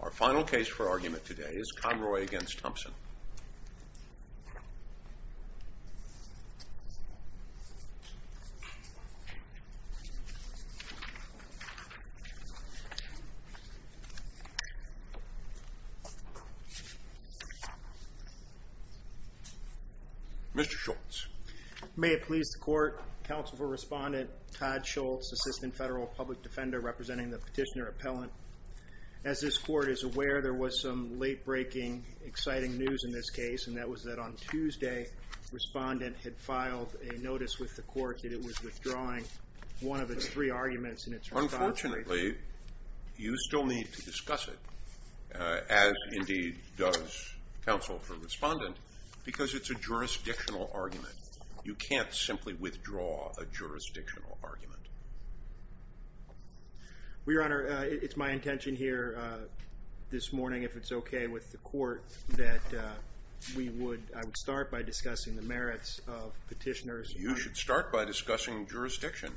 Our final case for argument today is Conroy v. Thompson. Mr. Schultz. May it please the court, counsel for respondent, Todd Schultz, Assistant Federal Public Defender representing the petitioner appellant As this court is aware, there was some late-breaking, exciting news in this case, and that was that on Tuesday, the respondent had filed a notice with the court that it was withdrawing one of its three arguments in its response. Unfortunately, you still need to discuss it, as indeed does counsel for respondent, because it's a jurisdictional argument. You can't simply withdraw a jurisdictional argument. Well, Your Honor, it's my intention here this morning, if it's okay with the court, that I would start by discussing the merits of petitioners. You should start by discussing jurisdiction.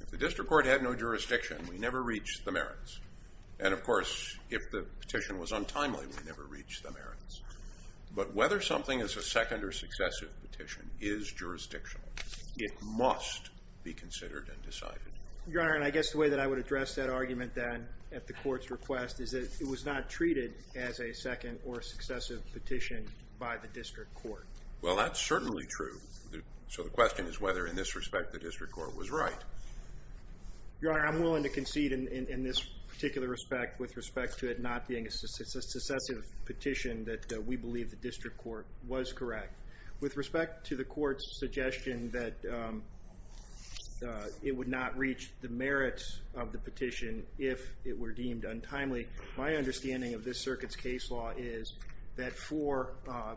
If the district court had no jurisdiction, we never reached the merits. And of course, if the petition was untimely, we never reached the merits. But whether something is a second or successive petition is jurisdictional. It must be considered and decided. Your Honor, and I guess the way that I would address that argument, then, at the court's request, is that it was not treated as a second or successive petition by the district court. Well, that's certainly true. So the question is whether, in this respect, the district court was right. Your Honor, I'm willing to concede, in this particular respect, with respect to it not being a successive petition, that we believe the district court was correct. With respect to the court's suggestion that it would not reach the merits of the petition if it were deemed untimely, my understanding of this circuit's case law is that for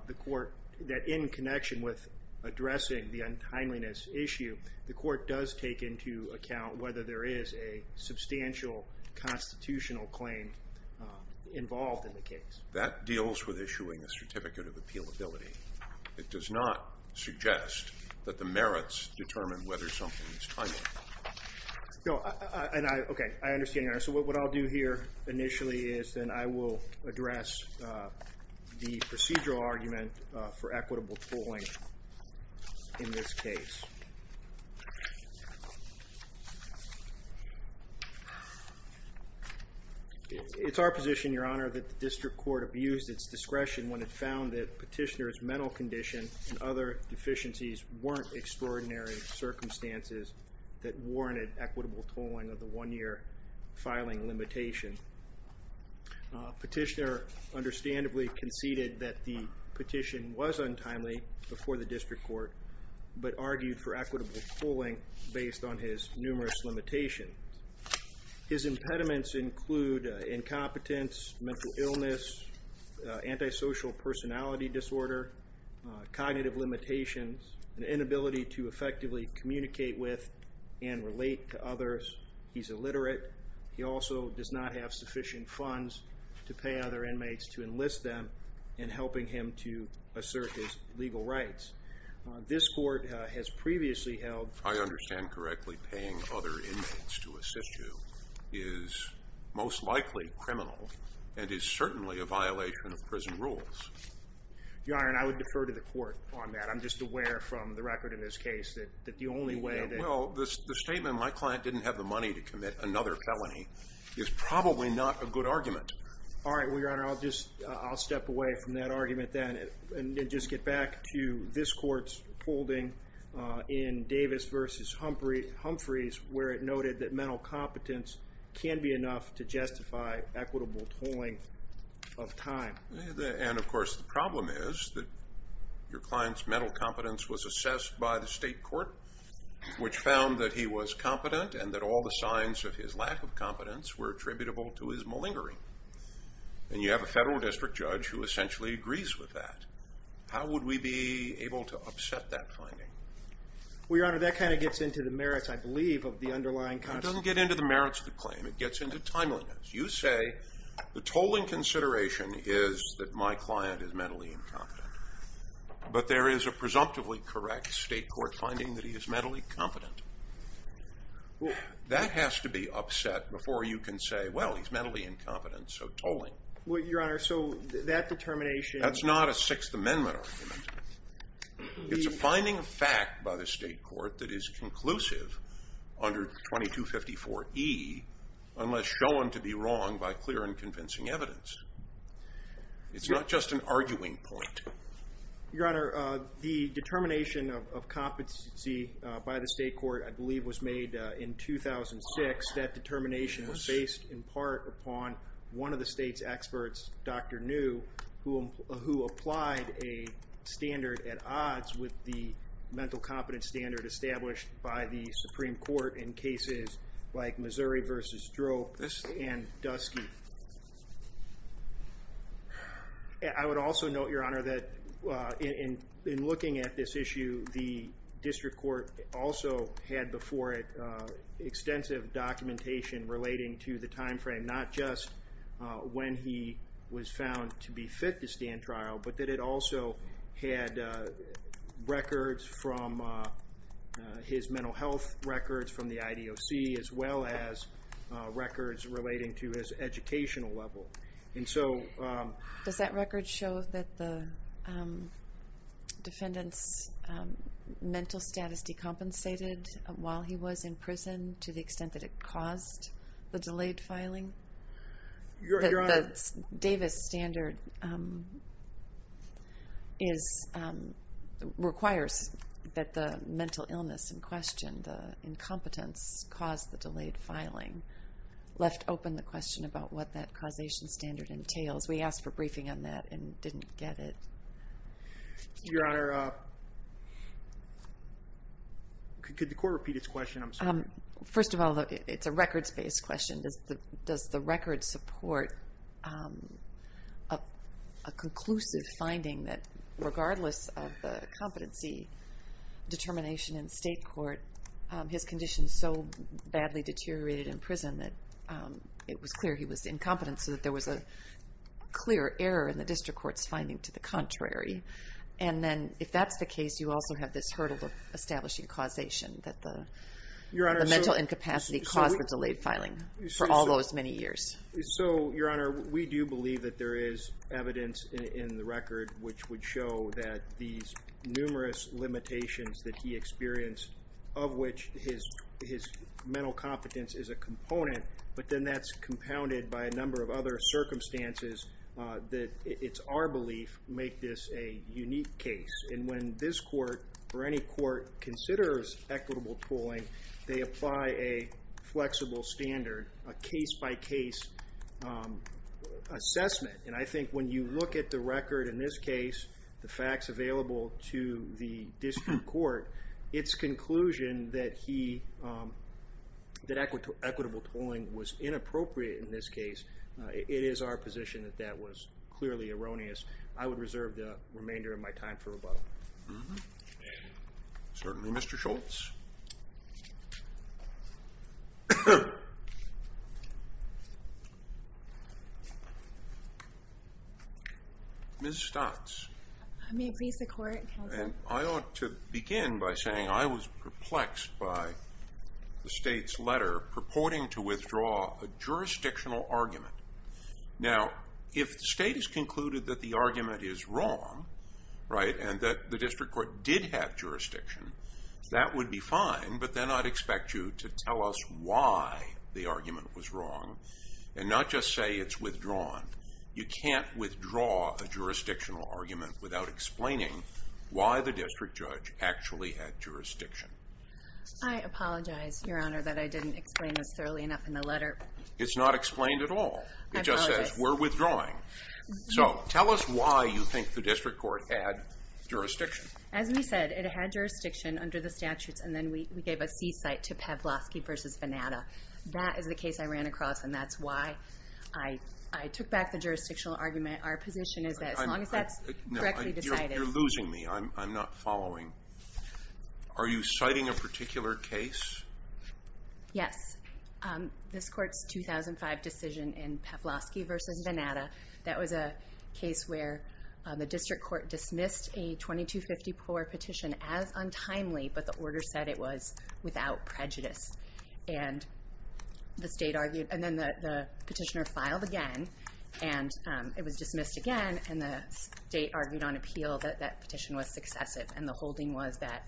the court, that in connection with addressing the untimeliness issue, the court does take into account whether there is a substantial constitutional claim involved in the case. That deals with issuing a certificate of appealability. It does not suggest that the merits determine whether something is timely. No, and I, okay, I understand, Your Honor. So what I'll do here, initially, is then I will address the procedural argument for equitable tolling in this case. It's our position, Your Honor, that the district court abused its discretion when it found that Petitioner's mental condition and other deficiencies weren't extraordinary circumstances that warranted equitable tolling of the one-year filing limitation. Petitioner understandably conceded that the petition was untimely before the district court, but argued for equitable tolling based on his numerous limitations. His impediments include incompetence, mental illness, antisocial personality disorder, cognitive limitations, an inability to effectively communicate with and relate to others. He's illiterate. He also does not have sufficient funds to pay other inmates to enlist them in helping him to assert his legal rights. This court has previously held... I understand correctly paying other inmates to assist you is most likely criminal and is certainly a violation of prison rules. Your Honor, and I would defer to the court on that. I'm just aware from the record in this case that the only way that... Well, the statement, my client didn't have the money to commit another felony, is probably not a good argument. All right, well, Your Honor, I'll step away from that argument then and just get back to this court's holding in Davis v. Humphreys where it noted that mental competence can be enough to justify equitable tolling of time. And of course the problem is that your client's mental competence was assessed by the state court which found that he was competent and that all the signs of his lack of competence were attributable to his malingering. And you have a federal district judge who essentially agrees with that. How would we be able to upset that finding? Well, Your Honor, that kind of gets into the merits, I believe, of the underlying... It doesn't get into the merits of the claim. It gets into timeliness. You say the tolling consideration is that my client is mentally incompetent. But there is a presumptively correct state court finding that he is mentally competent. That has to be upset before you can say, well, he's mentally incompetent, so tolling. Well, Your Honor, so that determination... That's not a Sixth Amendment argument. It's a finding of fact by the state court that is conclusive under 2254E unless shown to be wrong by clear and convincing evidence. It's not just an arguing point. Your Honor, the determination of competency by the state court, I believe, was made in 2006. That determination was based in part upon one of the state's experts, Dr. New, who applied a standard at odds with the mental competence standard established by the Supreme Court in cases like Missouri v. Drope and Dusky. I would also note, Your Honor, that in looking at this issue, the district court also had before it extensive documentation relating to the time frame, not just when he was found to be fit to stand trial, but that it also had records from his mental health records from the IDOC as well as records relating to his educational level. And so... Does that record show that the defendant's mental status decompensated while he was in prison to the extent that it caused the delayed filing? Your Honor... The Davis standard requires that the mental illness in question, the incompetence caused the delayed filing, left open the question about what that causation standard entails. We asked for briefing on that and didn't get it. Your Honor... Could the court repeat its question? I'm sorry. First of all, it's a records-based question. Does the record support a conclusive finding that, regardless of the competency determination in state court, his condition so badly deteriorated in prison that it was clear he was incompetent so that there was a clear error in the district court's finding to the contrary? And then, if that's the case, you also have this hurdle of establishing causation that the mental incapacity caused the delayed filing for all those many years. So, Your Honor, we do believe that there is evidence in the record which would show that these numerous limitations that he experienced, of which his mental competence is a component, but then that's compounded by a number of other circumstances that, it's our belief, make this a unique case. And when this court, or any court, considers equitable tooling, they apply a flexible standard, a case-by-case assessment. And I think when you look at the record, in this case, the facts available to the district court, its conclusion that equitable tooling was inappropriate in this case, it is our position that that was clearly erroneous. I would reserve the remainder of my time for rebuttal. Certainly, Mr. Schultz. Ms. Stutz. I may please the court, counsel. I ought to begin by saying I was perplexed by the state's letter purporting to withdraw a jurisdictional argument. Now, if the state has concluded that the argument is wrong, right, and that the district court did have jurisdiction, that would be fine, but then I'd expect you to tell us why the argument was wrong, and not just say it's withdrawn. You can't withdraw a jurisdictional argument without explaining why the district judge actually had jurisdiction. I apologize, Your Honor, that I didn't explain this thoroughly enough in the letter. It's not explained at all. It just says, we're withdrawing. So, tell us why you think the district court had jurisdiction. As we said, it had jurisdiction under the statutes, and then we gave a c-site to Pavlosky v. Venata. That is the case I ran across, and that's why I took back the jurisdictional argument. Our position is that as long as that's correctly decided... You're losing me. I'm not following. Are you citing a particular case? Yes. This court's 2005 decision in Pavlosky v. Venata, that was a case where the district court dismissed a 2250 poor petition as untimely, but the order said it was without prejudice. And the state argued... And then the petitioner filed again, and it was dismissed again, and the state argued on appeal that that petition was successive, and the holding was that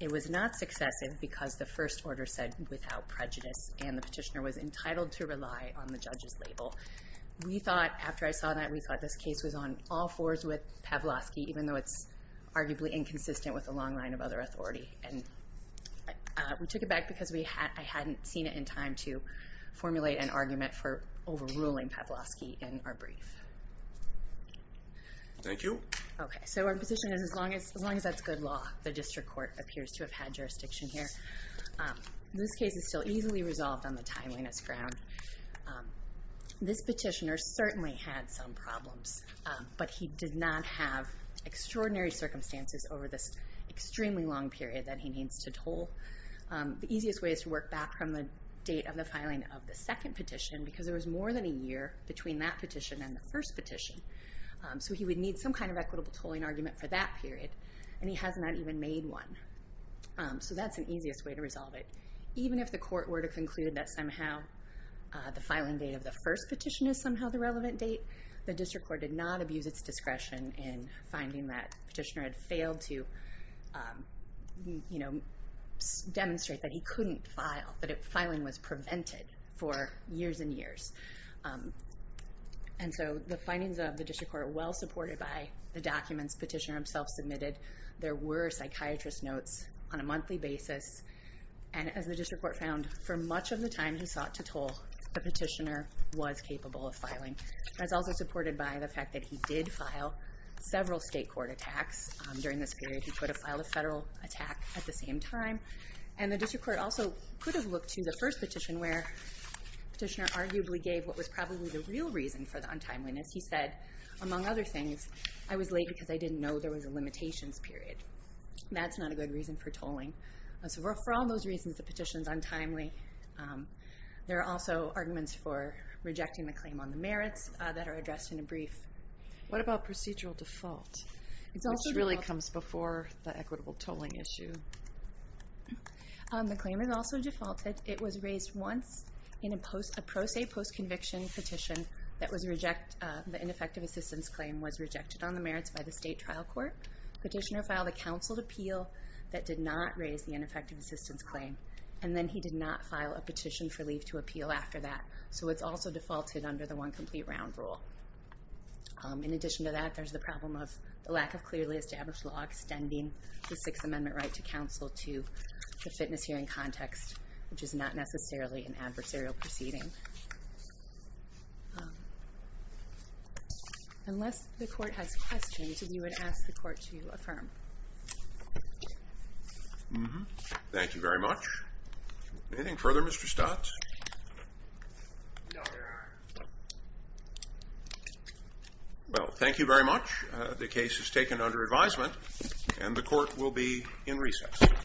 it was not successive because the first order said without prejudice, and the petitioner was entitled to rely on the judge's label. We thought, after I saw that, we thought this case was on all fours with Pavlosky, even though it's arguably inconsistent with a long line of other authority. And we took it back because I hadn't seen it in time to formulate an argument for overruling Pavlosky in our brief. Thank you. Okay, so our position is as long as that's good law, the district court appears to have had jurisdiction here. This case is still easily resolved on the timeliness ground. This petitioner certainly had some problems, but he did not have extraordinary circumstances over this extremely long period that he needs to toll. The easiest way is to work back from the date of the filing of the second petition, because there was more than a year between that petition and the first petition. So he would need some kind of equitable tolling argument for that period, and he has not even made one. So that's the easiest way to resolve it. Even if the court were to conclude that somehow the filing date of the first petition is somehow the relevant date, the district court did not abuse its discretion in finding that the petitioner had failed to demonstrate that he couldn't file, that filing was prevented for years and years. And so the findings of the district court are well-supported by the documents the petitioner himself submitted. There were psychiatrist notes on a monthly basis. And as the district court found, for much of the time he sought to toll, the petitioner was capable of filing. That's also supported by the fact that he did file several state court attacks during this period. He could have filed a federal attack at the same time. And the district court also could have looked to the first petition where the petitioner arguably gave what was probably the real reason for the untimeliness. He said, among other things, I was late because I didn't know there was a limitations period. That's not a good reason for tolling. For all those reasons, the petition is untimely. There are also arguments for rejecting the claim on the merits that are addressed in a brief. What about procedural default? This really comes before the equitable tolling issue. The claim is also defaulted. It was raised once in a pro se post-conviction petition that the ineffective assistance claim was rejected on the merits by the state trial court. The petitioner filed a counseled appeal that did not raise the ineffective assistance claim. And then he did not file a petition for leave to appeal after that. So it's also defaulted under the one complete round rule. In addition to that, there's the problem of the lack of clearly established law extending the Sixth Amendment right to counsel to the fitness hearing context, which is not necessarily an adversarial proceeding. Unless the court has questions, you would ask the court to affirm. Thank you very much. Anything further, Mr. Stotz? Well, thank you very much. The case is taken under advisement and the court will be in recess.